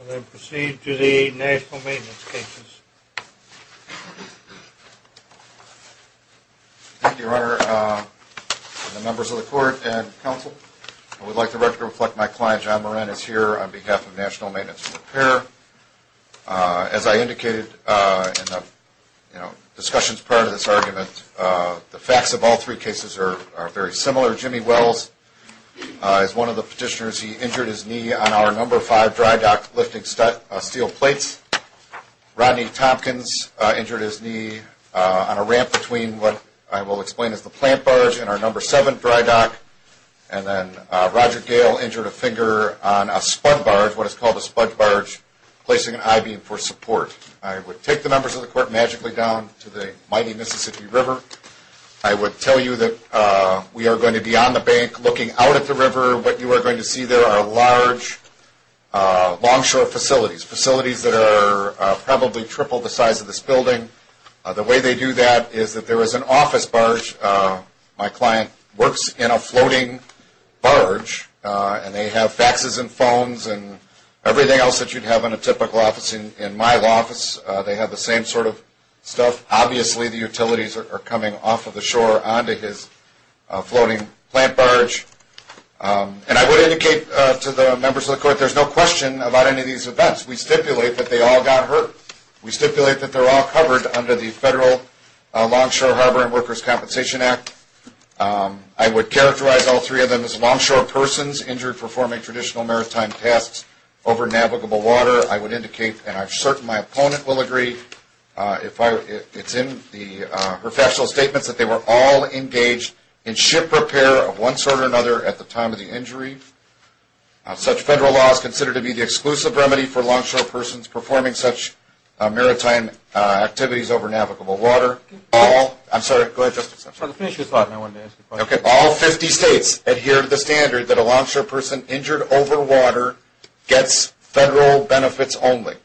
And then proceed to the National Maintenance Cases. Thank you, Your Honor and the members of the Court and Council. I would like to reflect my client John Moranis here on behalf of National Maintenance and Repair. As I indicated in the discussions prior to this argument, the facts of all three cases are very similar. Jimmy Wells is one of the petitioners. He injured his knee on our No. 5 dry dock lifting steel plates. Rodney Tompkins injured his knee on a ramp between what I will explain as the plant barge and our No. 7 dry dock. And then Roger Gale injured a finger on a sponge barge, what is called a sponge barge, placing an I-beam for support. I would take the members of the Court magically down to the looking out at the river. What you are going to see there are large longshore facilities, facilities that are probably triple the size of this building. The way they do that is that there is an office barge. My client works in a floating barge and they have faxes and phones and everything else that you would have in a typical office. In my office, they have the same sort of stuff. Obviously, the utilities are coming off of the shore onto his floating plant barge. And I would indicate to the members of the Court that there is no question about any of these events. We stipulate that they all got hurt. We stipulate that they are all covered under the Federal Longshore Harbor and Workers' Compensation Act. I would characterize all three of them as longshore persons injured performing traditional maritime tasks over navigable water. I would agree. It is in the factional statements that they were all engaged in ship repair of one sort or another at the time of the injury. Such Federal law is considered to be the exclusive remedy for longshore persons performing such maritime activities over navigable water. All 50 states adhere to the standard that a longshore person injured over water gets Federal benefits only.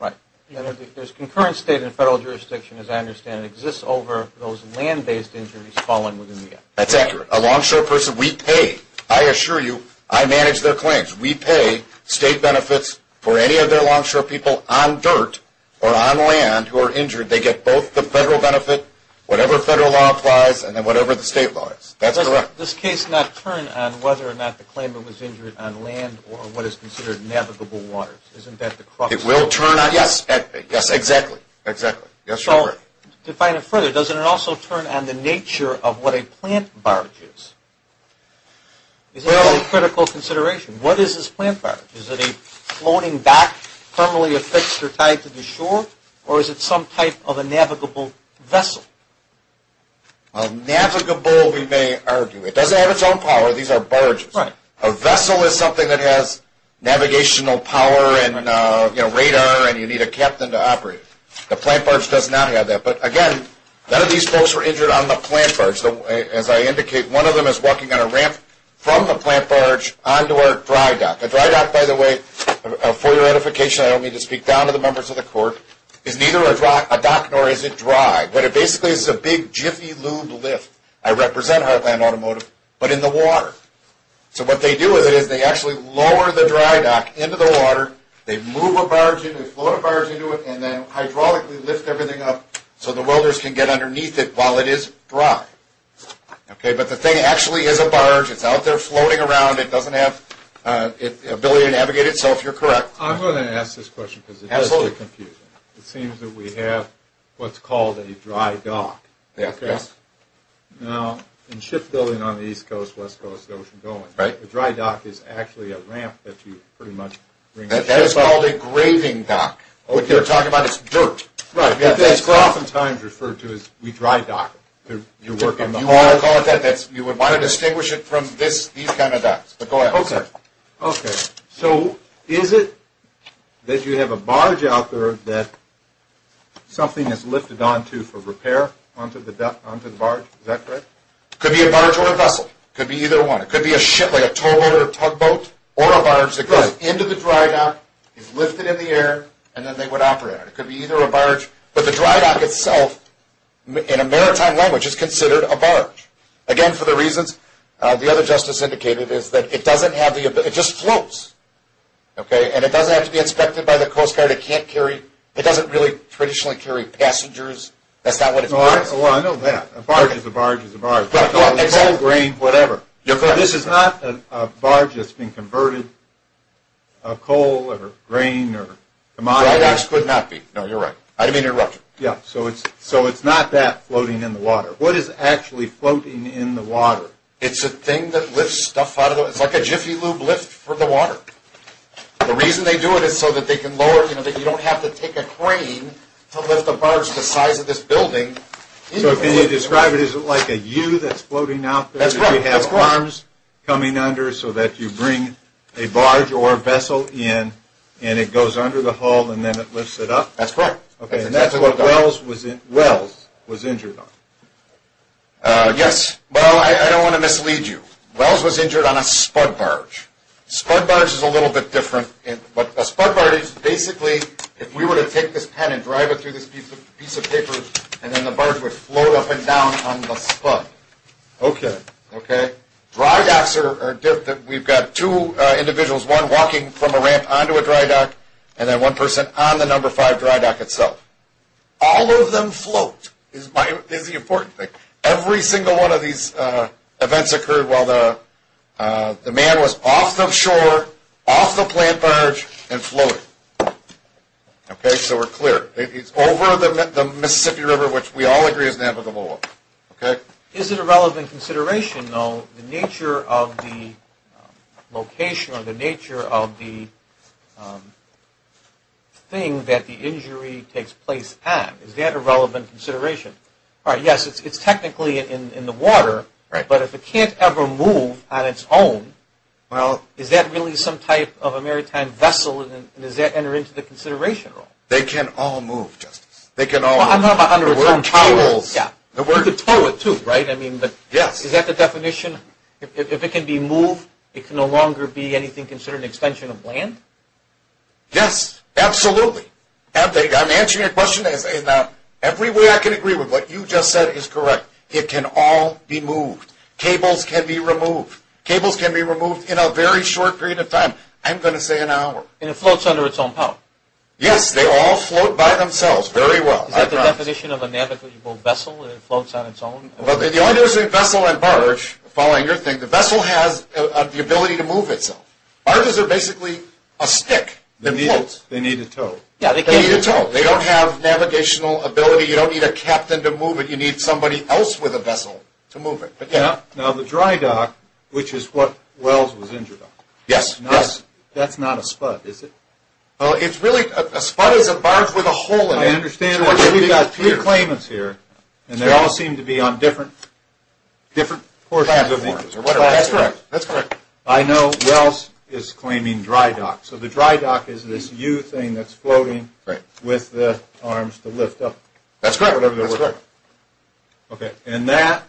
Right. There is concurrent state and Federal jurisdiction, as I understand it, that exists over those land-based injuries fallen within the Act. That is accurate. A longshore person, we pay, I assure you, I manage their claims. We pay State benefits for any of their longshore people on dirt or on land who are injured. They get both the Federal benefit, whatever Federal law applies, and then whatever the State law is. That is correct. Does this case not turn on whether or not the crux of the matter? It will turn on, yes, exactly. Define it further. Does it not also turn on the nature of what a plant barge is? Is it a critical consideration? What is this plant barge? Is it a floating back permanently affixed or tied to the shore, or is it some type of a navigable vessel? A navigable, we may argue. It does not have its own power. These are barges. A vessel is something that has navigational power and radar, and you need a captain to operate it. A plant barge does not have that. Again, none of these folks were injured on the plant barge. As I indicate, one of them is walking on a ramp from the plant barge onto our dry dock. A dry dock, by the way, for your edification, I don't mean to speak down to the members of the Court, is neither a dock nor is it dry, but it basically is a big, jiffy, lube lift. I represent Heartland Automotive, but in the water. What they do with it is they actually lower the dry dock into the water, they move a barge in, they float a barge into it, and then hydraulically lift everything up so the welders can get underneath it while it is dry. The thing actually is a barge. It is out there floating around. It does not have the ability to navigate itself. You are correct. I am going to ask this question because it does get confusing. It seems that we have what is called a dry dock. Yes. Now, in shipbuilding on the East Coast, West Coast, Ocean Going, a dry dock is actually a ramp that you pretty much bring. That is called a graving dock. What you are talking about is dirt. Right. That is often times referred to as the dry dock. You would want to distinguish it from these kind of docks, but go ahead. Okay. Is it that you have a barge out there that something is lifted onto for repair onto the barge? Is that correct? It could be a barge or a vessel. It could be either one. It could be a ship, like a towboat or a tugboat, or a barge that goes into the dry dock, is lifted in the air, and then they would operate on it. It could be either a barge, but the dry dock itself in a maritime language is considered a barge. Again, for the reasons the other justice indicated is that it just floats. It does not have to be inspected by the Coast Guard. It does not really traditionally carry passengers. That is not what it is. I know that. A barge is a barge is a barge. Exactly. A coal, grain, whatever. This is not a barge that has been converted. A coal or grain or commodity. A dry dock could not be. You are right. I did not mean to interrupt you. Yes. It is not that floating in the water. What is actually floating in the water? It is a thing that lifts stuff out of the water. It is like a jiffy lube lift for the water. The reason they do it is so that you do not have to take a crane to lift a barge the size of this building. Can you describe it as like a U that is floating out there? That is correct. You have arms coming under so that you bring a barge or a vessel in, and it goes under the hull, and then it lifts it up? That is correct. That is what Wells was injured on. Yes. Well, I do not want to mislead you. Wells was injured on a spud barge. A spud barge is a little bit different. A spud barge is basically, if we were to take this pen and drive it through this piece of paper, and then the barge would float up and down on the spud. Dry docks are different. We have got two individuals. One walking from a ramp onto a dry dock, and then one person on the number five dry dock itself. All of them float is the important thing. Every single one of these events occurred while the man was off the shore, off the planned barge, and floating. So we are clear. It is over the Mississippi River, which we all agree is navigable. Is it a relevant consideration though, the nature of the location or the nature of the thing that the injury takes place at? Is that a relevant consideration? Yes, it is technically in the water, but if it cannot ever move on its own, well, is that really some type of a maritime vessel, and does that enter into the consideration at all? They can all move, Justice. They can all move. I am talking about underwater. The word towels. You could tow it too, right? Yes. Is that the definition? If it can be moved, it can no longer be anything considered an extension of land? Yes, absolutely. I am answering your question. Every way I can agree with what you just said is correct. It can all be moved. Cables can be removed. Cables can be removed in a very short period of time. I am going to say an hour. And it floats under its own power? Yes, they all float by themselves very well. Is that the definition of a navigable vessel? It floats on its own? The only difference between vessel and barge, following your thing, the vessel has the barge. Barges are basically a stick that floats. They need a tow. They need a tow. They don't have navigational ability. You don't need a captain to move it. You need somebody else with a vessel to move it. Now, the dry dock, which is what Wells was injured on. Yes. That is not a spud, is it? A spud is a barge with a hole in it. I understand that we have three claimants here, and they all seem to be on different portions. That is correct. That is correct. I know Wells is claiming dry dock. So the dry dock is this U thing that is floating with the arms to lift up. That is correct. And that,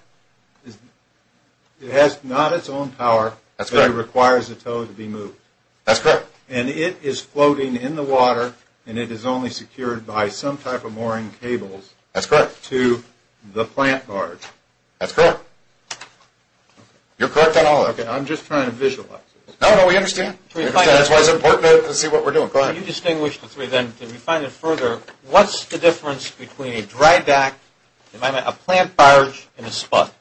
it has not its own power, but it requires a tow to be moved. That is correct. And it is floating in the water, and it is only secured by some type of mooring cables. That is correct. To the plant barge. That is correct. You are correct on all of it. I am just trying to visualize it. No, no. We understand. That is why it is important to see what we are doing. Go ahead. Can you distinguish the three then? Can you find it further? What is the difference between a dry dock, a plant barge, and a spud?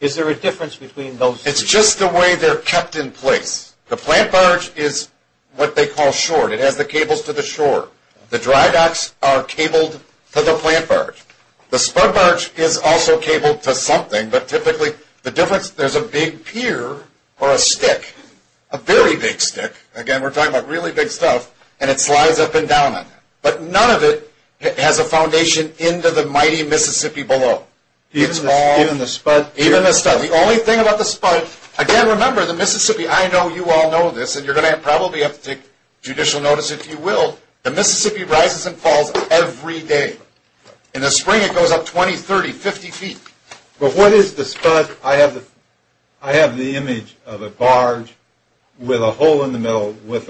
Is there a difference between those three? It is just the way they are kept in place. The plant barge is what they call short. It has cables to the shore. The dry docks are cabled to the plant barge. The spud barge is also cabled to something, but typically the difference, there is a big pier or a stick, a very big stick, again we are talking about really big stuff, and it slides up and down on it. But none of it has a foundation into the mighty Mississippi below. Even the spud? Even the spud. The only thing about the spud, again remember the Mississippi, I know you all know this, and you are going to probably have to take judicial notice if you will, the Mississippi rises and falls every day. In the spring it goes up 20, 30, 50 feet. But what is the spud? I have the image of a barge with a hole in the middle. Pick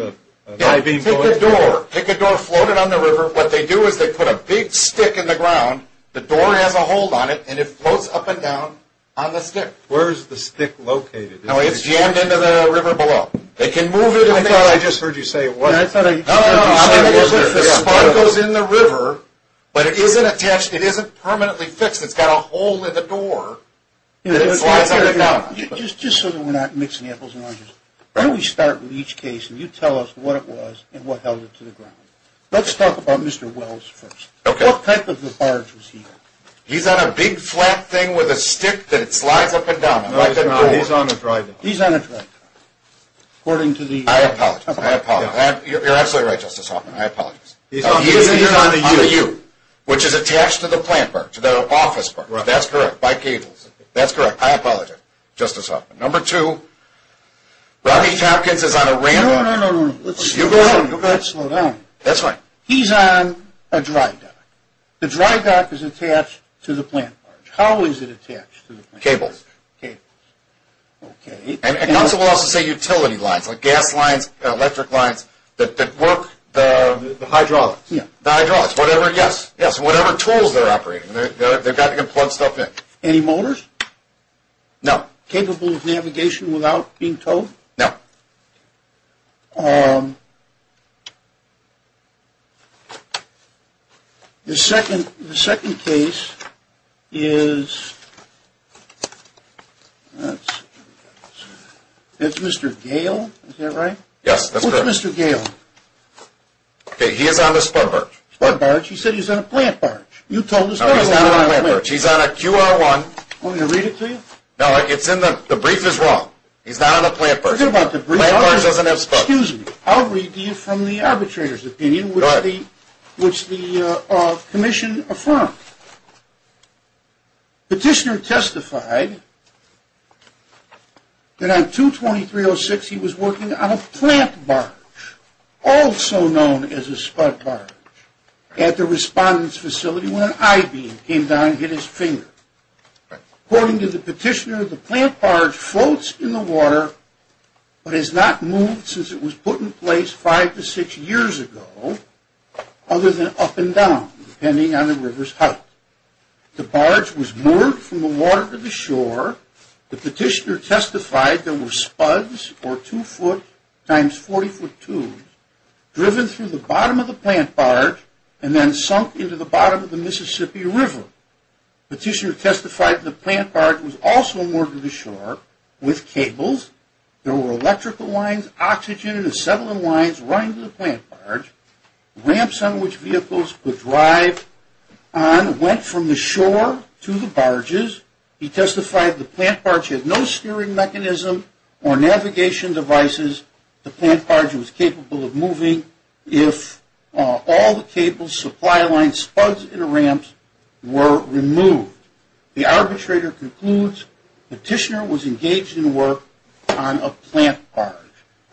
a door, float it on the river. What they do is they put a big stick in the ground, the door has a hold on it, and it floats up and down on the stick. Where is the spud? The spud goes in the river, but it isn't attached, it isn't permanently fixed, it has a hole in the door, and it slides up and down on it. Just so we are not mixing apples and oranges, why don't we start with each case and you tell us what it was and what held it to the ground. Let's talk about Mr. Wells first. What type of a barge was he on? He is on a big flat thing with a stick that slides up and down on it. He is on a dry dock. You are absolutely right Justice Hoffman, I apologize. He is on a U, which is attached to the plant barge, the office barge. That is correct. I apologize, Justice Hoffman. Number two, Rodney Hopkins is on a ram barge. You go ahead and slow down. He is on a dry dock. The dry dock is attached to the plant barge. How is it attached to the plant barge? Cables. Council will also say utility lines, like gas lines, electric lines that work the hydraulics. The hydraulics, whatever tools they are operating, they have to be able to plug stuff in. Any motors? No. Capable of navigation without being towed? No. The second case is Mr. Gale, is that right? Yes, that is correct. What is Mr. Gale? He is on the spud barge. Spud barge? He said he is on a plant barge. You told us he was on a plant barge. No, he is not on a plant barge. He is on a QR1. Want me to read it to you? No, the brief is wrong. He is not on a plant barge. The plant barge doesn't have spud. Excuse me, I will read to you from the arbitrator's opinion which the commission affirmed. Petitioner testified that on 22306 he was working on a plant barge, also known as a spud barge, at the respondent's facility when an I-beam came down and hit his finger. According to the petitioner, the plant barge floats in the water but has not moved since it was put in place five to six years ago, other than up and down, depending on the river's height. The barge was moored from the water to the shore. The petitioner testified there were spuds, or two foot times 40 foot tubes, driven through the bottom of the plant barge and then sunk into the Mississippi River. Petitioner testified the plant barge was also moored to the shore with cables. There were electrical lines, oxygen and acetylene lines running through the plant barge. Ramps on which vehicles could drive on went from the shore to the barges. He testified the plant barge had no steering mechanism or navigation devices. The plant barge was capable of moving if all the cables, supply lines, spuds and ramps were removed. The arbitrator concludes petitioner was engaged in work on a plant barge.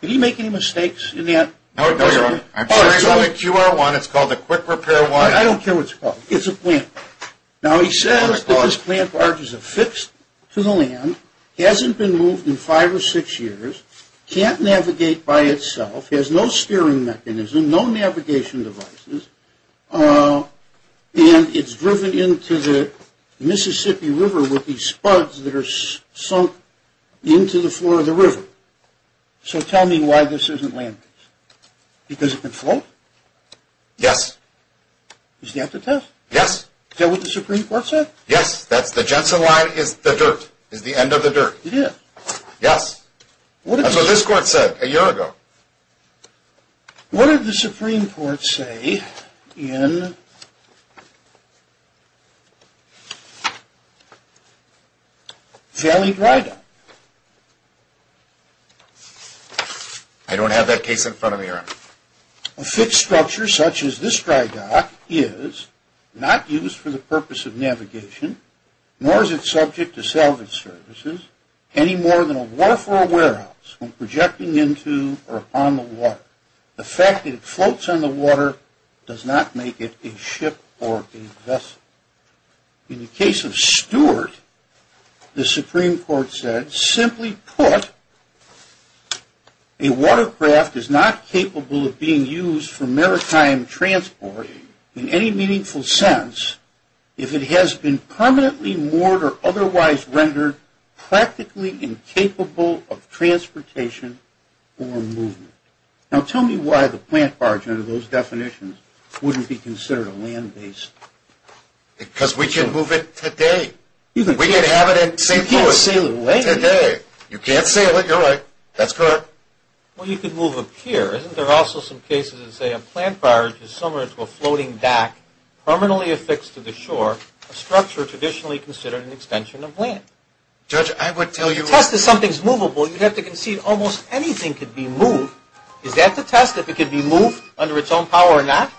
Did he make any mistakes in that? I'm sorry, it's on the QR-1. It's called the quick repair one. I don't care what it's called. It's a plant barge. Now he says that this plant barge is affixed to the land, hasn't been moved in five or six years, can't navigate by itself, has no steering mechanism, no navigation devices, and it's driven into the Mississippi River with these spuds that are sunk into the floor of the river. So tell me why this isn't land-based. Because it can float? Yes. Is that the test? Yes. Is that what the Supreme Court said? Yes, that's the Jensen line is the dirt, is the end of the dirt. It is. Yes. That's what this court said a year ago. What did the Supreme Court say in Valley Dry Dock? I don't have that case in front of me right now. A fixed structure such as this dry dock is not used for the purpose of navigation, nor is it subject to salvage services, any more than a wharf or a warehouse when projecting into or upon the water. The fact that it floats on the water does not make it a ship or a vessel. In the case of Stewart, the Supreme Court said, simply put, a watercraft is not capable of being used for maritime transport in any meaningful sense if it has been permanently moored or otherwise rendered practically incapable of transportation or movement. Now tell me why the plant barge, under those definitions, wouldn't be considered a land base? Because we can move it today. We can have it in St. Louis. You can't sail it away. Today. You can't sail it. You're right. That's correct. Well, you could move up here. Isn't there also some cases that say a plant barge is similar to a floating deck permanently affixed to the shore, a structure traditionally considered an extension of land? Judge, I would tell you... To test if something's movable, you'd have to concede almost anything could be moved. Is that to test if it could be moved under its own power or not?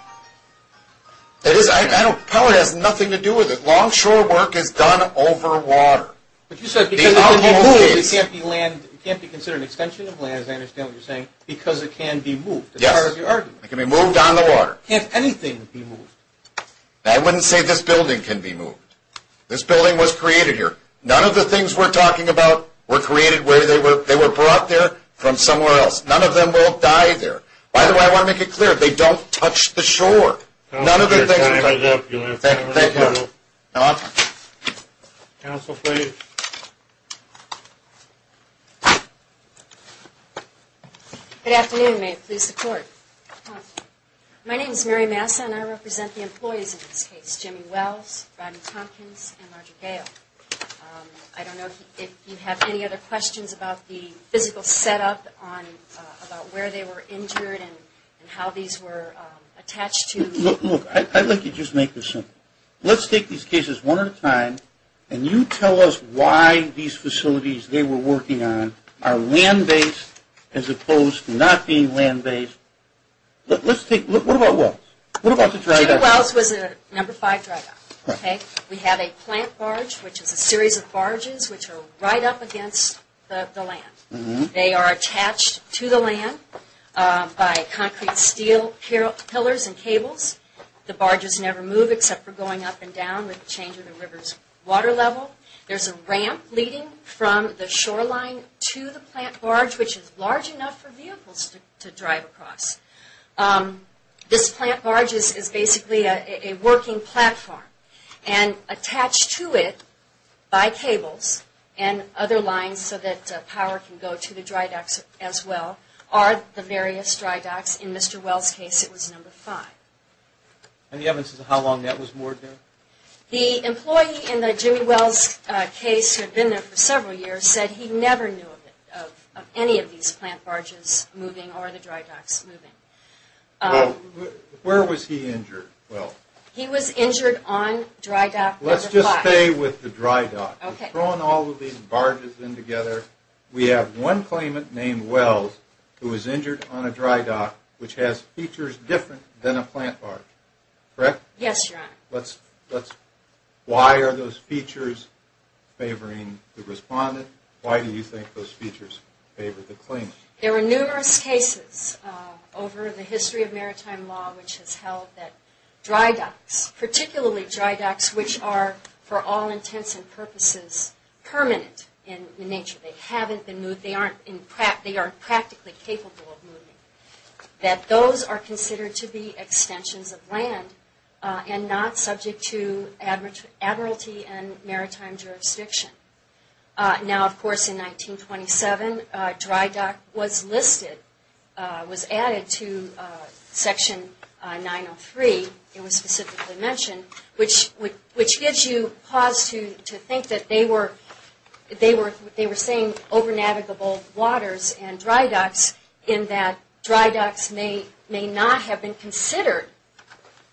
Power has nothing to do with it. Longshore work is done over water. But you said because it can be moved, it can't be considered an extension of land. I understand what you're saying. Because it can be moved, as far as you're arguing. It can be moved on the shore. None of the things we're talking about were created where they were. They were brought there from somewhere else. None of them will die there. By the way, I want to make it clear, they don't touch the shore. None of the things... Counsel, please. Good afternoon. May it please the court. My name is Mary Massa, and I represent the employees in this case, Jimmy Wells, Rodney Tompkins, and Roger Gale. I don't know if you have any other questions about the physical setup, about where they were injured, and how these were attached to... Look, I'd like to just make this simple. Let's take these cases one at a time, and you tell us why these facilities they were working on are land-based, as opposed to not being land-based. Let's take... What about Wells? What about the dry dock? Jimmy Wells was at number five dry dock. We have a plant barge, which is a series of barges which are right up against the land. They are attached to the land by concrete, steel pillars and cables. The barges never move except for going up and down with the change in the river's water level. There's a ramp leading from the shoreline to the plant barge, which is large enough for vehicles to drive across. This plant barge is basically a working platform, and attached to it by cables and other lines so that power can go to the dry docks as well, are the various dry docks. In Mr. Wells' case, it was number five. Any evidence of how long that was more than? The employee in the Jimmy several years said he never knew of any of these plant barges moving or the dry docks moving. Where was he injured? Well, he was injured on dry dock number five. Let's just stay with the dry dock. Okay. We've thrown all of these barges in together. We have one claimant named Wells who was injured on a dry dock which has features different than a plant barge. Correct? Yes, Your Honor. Why are those features favoring the respondent? Why do you think those features favor the claimant? There are numerous cases over the history of maritime law which has held that dry docks, particularly dry docks which are for all intents and purposes permanent in nature, they haven't been moved, they aren't practically capable of moving, that those are considered to be land and not subject to admiralty and maritime jurisdiction. Now, of course, in 1927, dry dock was listed, was added to Section 903, it was specifically mentioned, which gives you pause to think that they were saying over navigable waters and dry docks in that dry docks may not have been considered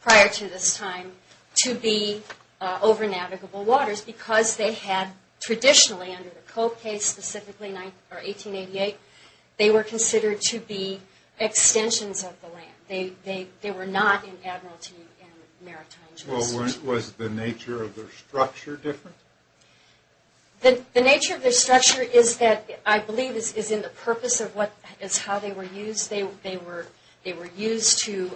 prior to this time to be over navigable waters because they had traditionally under the Cope case, specifically 1888, they were considered to be extensions of the land. They were not in admiralty and maritime jurisdiction. Was the nature of their structure different? The nature of their structure is that I believe is in the purpose of what is how they were used. They were used to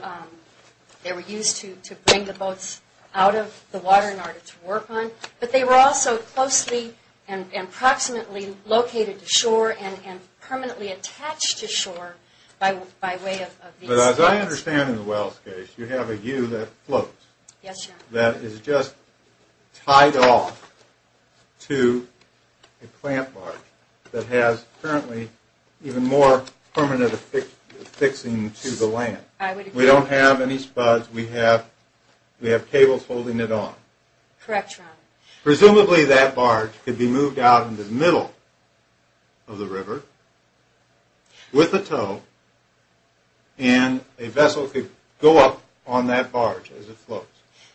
bring the boats out of the water in order to work on, but they were also closely and approximately located to shore and permanently attached to shore by way of these. But as I understand in the Wells case, you have a U that floats, that is just tied off to a plant barge that has currently even more fixing to the land. We don't have any spuds, we have cables holding it on. Presumably that barge could be moved out in the middle of the river with a tow and a vessel could go up on that barge as it floats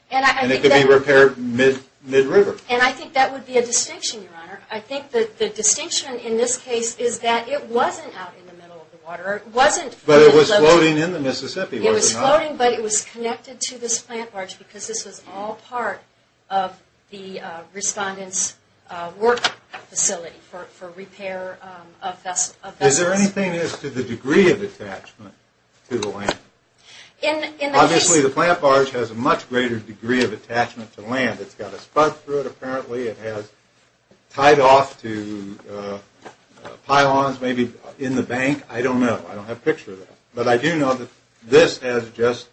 and it could be repaired mid-river. And I think that would be a distinction, your honor. I think the distinction in this case is that it wasn't out in the middle of the water. But it was floating in the Mississippi. It was floating but it was connected to this plant barge because this was all part of the respondent's work facility for repair of vessels. Is there anything as to the degree of attachment to the land? Obviously the plant barge has a much greater degree of attachment to land. It's got a spud through it apparently. It has tied off to pylons maybe in the bank. I don't know. I don't have a picture of that. But I do know that this has just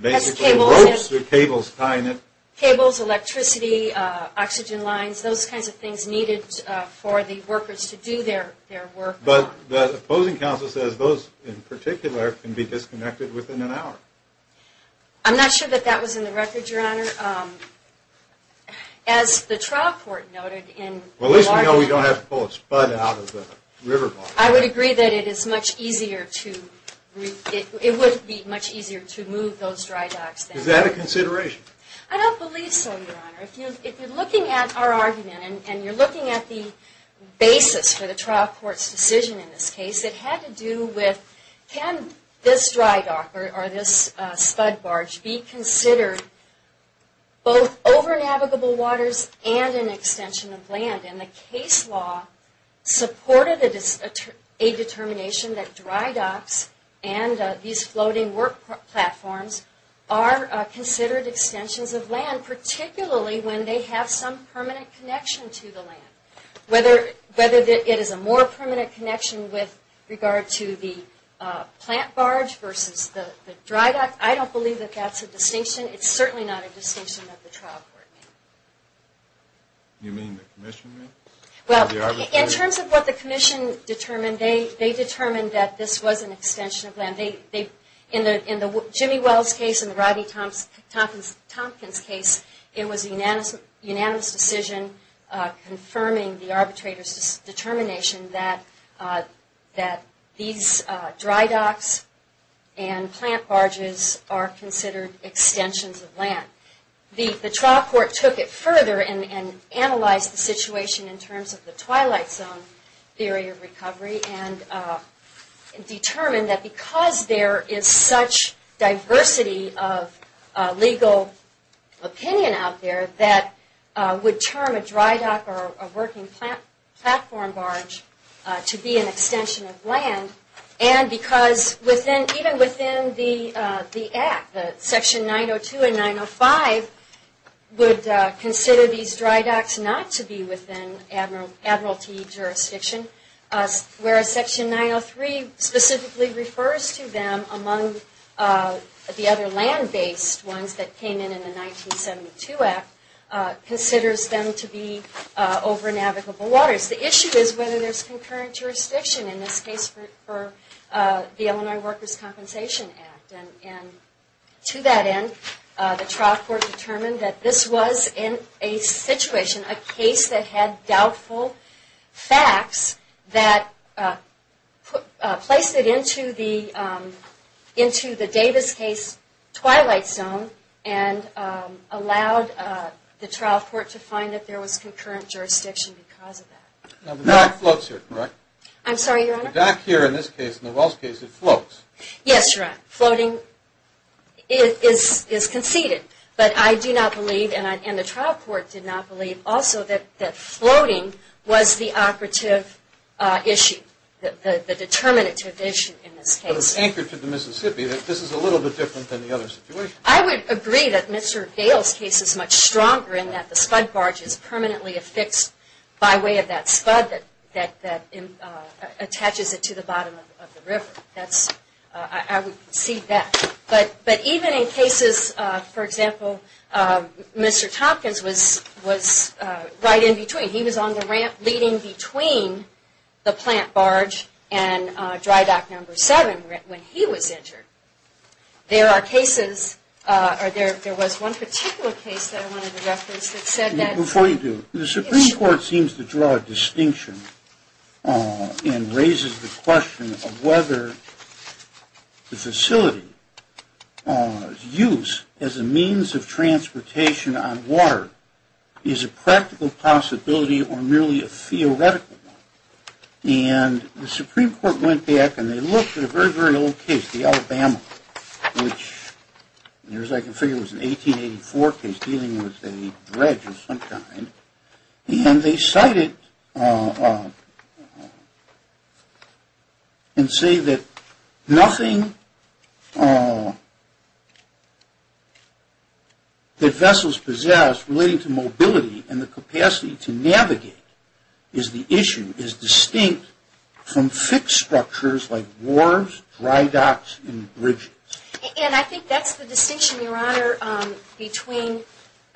basically ropes through cables tying it. Cables, electricity, oxygen lines, those kinds of things needed for the workers to do their work. But the opposing counsel says those in particular can be disconnected within an hour. I'm not sure that that was in the record, your honor. As the trial court noted in... Well, at least we know we don't have to pull a spud out of the river barge. I would agree that it is much easier to... it would be much easier to move those dry docks. Is that a consideration? I don't believe so, your honor. If you're looking at our argument and you're looking at the basis for the spud barge, be considered both over navigable waters and an extension of land. And the case law supported a determination that dry docks and these floating work platforms are considered extensions of land, particularly when they have some permanent connection to the land. Whether it is a more I don't believe that that's a distinction. It's certainly not a distinction that the trial court made. You mean the commission made? Well, in terms of what the commission determined, they determined that this was an extension of land. In the Jimmy Wells case and the Rodney Tompkins case, it was a unanimous decision confirming the arbitrator's determination that these dry docks and plant barges are considered extensions of land. The trial court took it further and analyzed the situation in terms of the twilight zone theory of recovery and determined that because there is such diversity of legal opinion out there that would term a dry dock or a working platform barge to be an extension of land and because even within the act, section 902 and 905, would consider these dry docks not to be within admiralty jurisdiction, whereas section 903 specifically refers to them among the other land-based ones that came in in the 1972 act, considers them to be over navigable waters. The issue is whether there is concurrent jurisdiction in this case for the Illinois Workers' Compensation Act. And to that end, the trial court determined that this was in a situation, a case that had doubtful facts that placed it into the Davis case twilight zone and allowed the trial court to find that there was concurrent jurisdiction because of that. Now the dock floats here, correct? I'm sorry, Your Honor? The dock here in this case, in the Wells case, it floats. Yes, Your Honor. Floating is conceded. But I do not believe, and the trial court did not believe also that floating was the operative issue, the determinative issue in this case. But it was anchored to the Mississippi. This is a little bit different than the other situation. I would agree that Mr. Dale's case is much stronger in that the spud barge is permanently affixed by way of that spud that attaches it to the bottom of the river. I would see that. But even in cases, for example, Mr. Tompkins was right in between. He was on the ramp leading between the plant barge and dry dock number seven when he was injured. There are cases, or there was one particular case that I wanted to reference that said that... Before you do, the Supreme Court seems to draw a distinction and raises the question of whether the facility's use as a means of transportation on water is a practical possibility or merely a theoretical one. And the Supreme Court went back and they looked at a very, very old case, the Alabama, which I can figure was an 1884 case dealing with a dredge of some kind. And they cited and say that nothing that vessels possess relating to mobility and the capacity to navigate is the issue is distinct from fixed structures like wharves, dry docks, and bridges. And I think that's the distinction, Your Honor, between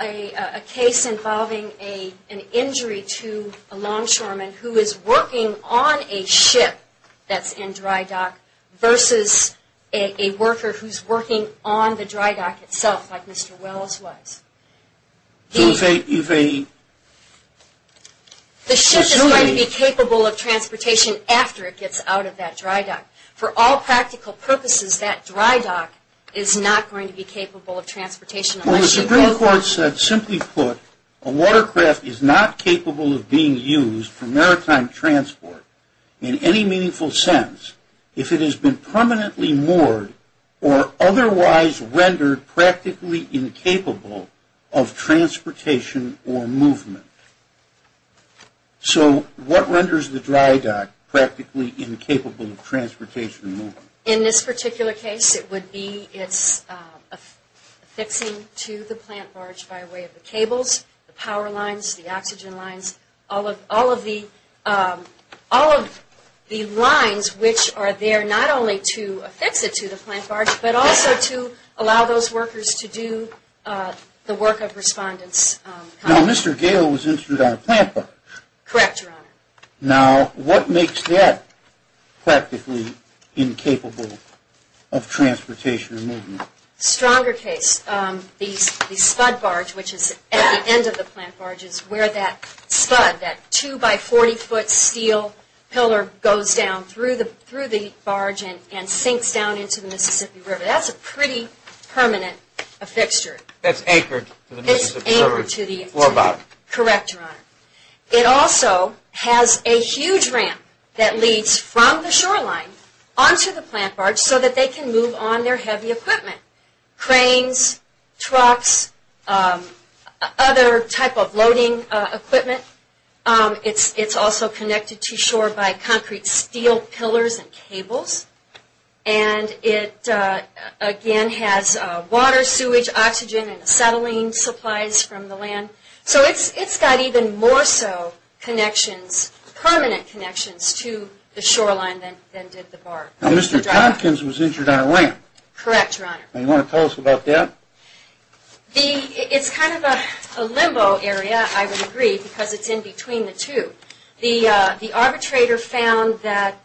a case involving an injury to a longshoreman who is working on a ship that's in dry dock versus a worker who's working on the dry dock itself like Mr. Wells was. The ship is going to be capable of transportation after it gets out of that dry dock. For all practical purposes, that dry dock is not going to be capable of transportation unless you... Well, the Supreme Court said, simply put, a watercraft is not capable of being used for maritime transport in any meaningful sense if it has been permanently moored or otherwise rendered practically incapable of transportation or movement. So what renders the dry dock practically incapable of transportation or movement? In this particular case, it would be its affixing to the plant barge by way of the cables, the power lines, the oxygen lines, all of the lines which are there not only to affix it to the plant barge, but also to allow those workers to do the work of respondents. Now, Mr. Gale was injured on a plant barge. Correct, Your Honor. Now, what makes that practically incapable of transportation or movement? Stronger case, the spud barge which is at the end of the plant barge is where that spud, that 2 by 40 foot steel pillar goes down through the barge and sinks down into the Mississippi River. That's a pretty permanent affixture. That's anchored to the Mississippi River floor bottom. Correct, Your Honor. It also has a huge ramp that leads from the shoreline onto the plant barge so that they can move on their heavy equipment. Cranes, trucks, other type of loading equipment. It's also connected to shore by concrete steel pillars and cables. And it again has water, sewage, oxygen, and acetylene supplies from the land. So it's got even more so connections, permanent connections to the shoreline than did the barge. Now, Mr. Tompkins was injured on a ramp. Correct, Your Honor. Now, you want to tell us about that? It's kind of a limbo area, I would agree, because it's in between the two. The arbitrator found that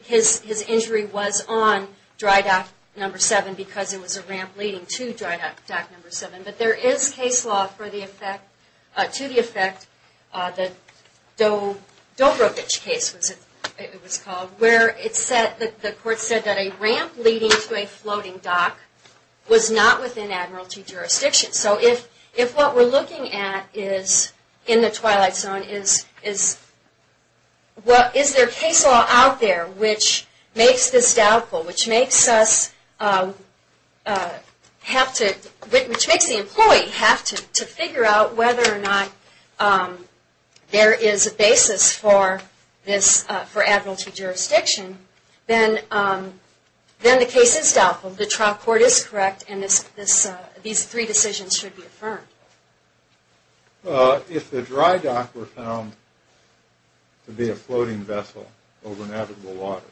his injury was on dry dock number 7 because it was a ramp leading to dry dock number 7. But there is case law for the effect, to the court said that a ramp leading to a floating dock was not within admiralty jurisdiction. So if what we're looking at is in the twilight zone, is there case law out there which makes this doubtful, which makes the employee have to figure out whether or not there is a basis for this, for admiralty jurisdiction, then the case is doubtful, the trial court is correct, and these three decisions should be affirmed. If the dry dock were found to be a floating vessel over navigable waters,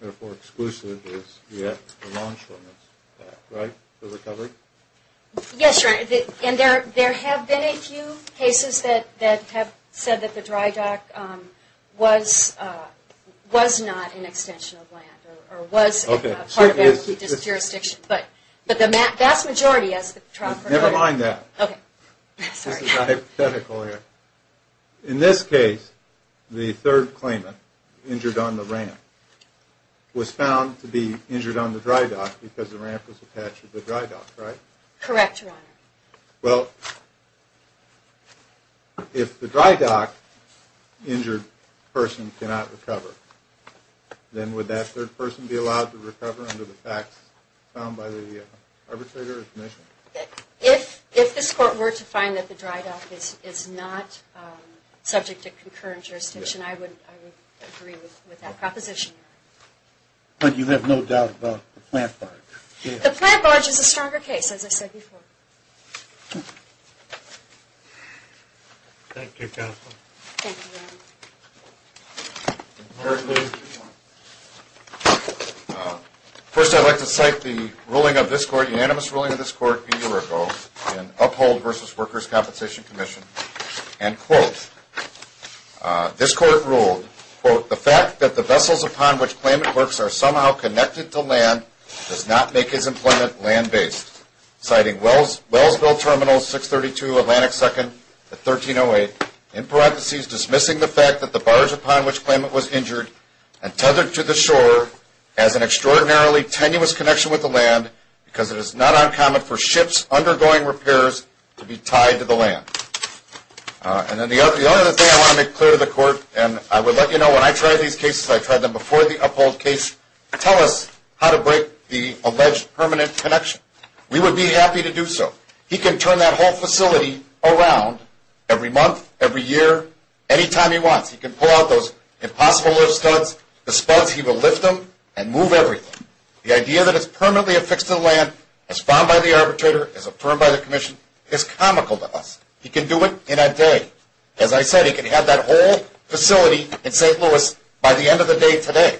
therefore exclusive is yet the Lawn Shortness Act, right, the recovery? Yes, Your Honor, and there have been a few cases that have said that the dry dock was not an extension of land, or was part of admiralty jurisdiction, but the vast majority as the trial court... Never mind that. Okay. This is hypothetical here. In this case, the third claimant, injured on the ramp, was found to be injured on the dry dock because the ramp was attached to the dry dock, right? Correct, Your Honor. Well, if the dry dock injured person cannot recover, then would that third person be allowed to recover under the facts found by the arbitrator's mission? If this court were to find that the dry dock is not subject to concurrent jurisdiction, I would agree with that proposition. But you have no doubt about the plant barge? The plant barge is a stronger case, as I said before. Thank you, counsel. Thank you, Your Honor. First, I'd like to cite the unanimous ruling of this court a year ago in Uphold v. Workers' Compensation Commission, and quote, This court ruled, quote, The fact that the vessels upon which claimant works are somehow connected to land does not make his employment land-based, citing Wellsville Terminal 632 Atlantic 2nd at 1308, in parentheses, dismissing the fact that the barge upon which claimant was injured and tethered to the shore has an extraordinarily tenuous connection with the land because it is not uncommon for ships undergoing repairs to be tied to the land. And then the only other thing I want to make clear to the court, and I would let you know when I tried these cases, I tried them before the Uphold case, tell us how to break the alleged permanent connection. We would be happy to do so. He can turn that whole facility around every month, every year, any time he wants. He can pull out those impossible lift studs, the spuds, he will lift them and move everything. The idea that it's permanently affixed to the land, as found by the arbitrator, as affirmed by the commission, is comical to us. He can do it in a day. As I said, he can have that whole facility in St. Louis by the end of the day today.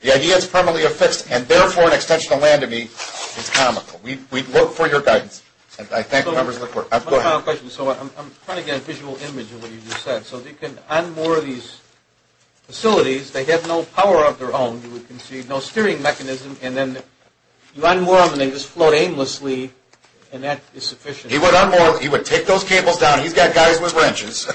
The idea it's permanently affixed and therefore an extension of land to me is comical. We'd look for your guidance. And I thank members of the court. Go ahead. So I'm trying to get a visual image of what you just said. So on more of these facilities, they have no power of their own. You can see no steering mechanism. And then you unwrap them and they just float aimlessly, and that is sufficient. He would take those cables down. He's got guys with wrenches.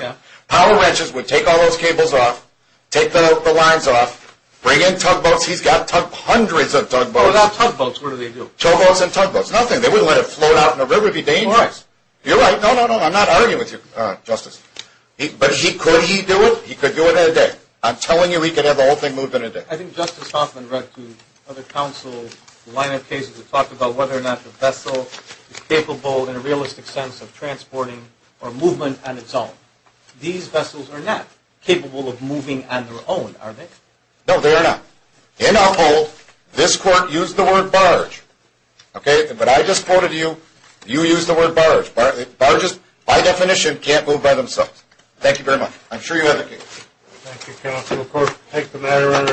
Power wrenches would take all those cables off, take the lines off, bring in tugboats. He's got hundreds of tugboats. What about tugboats? What do they do? Towboats and tugboats. Nothing. They wouldn't let it float out in the river. It would be dangerous. You're right. No, no, no. I'm not arguing with you, Justice. But could he do it? He could do it in a day. I'm telling you, he could have the whole thing moved in a day. I think Justice Hoffman read to other counsels a line of cases that talked about whether or not the vessel is capable, in a realistic sense, of transporting or movement on its own. These vessels are not capable of moving on their own, are they? No, they are not. In Uphold, this Court used the word barge. OK? But I just quoted you. You used the word barge. Barges, by definition, can't move by themselves. Thank you very much. I'm sure you have a case. Thank you, counsel. Of course. Thanks for the matter, Your Honor.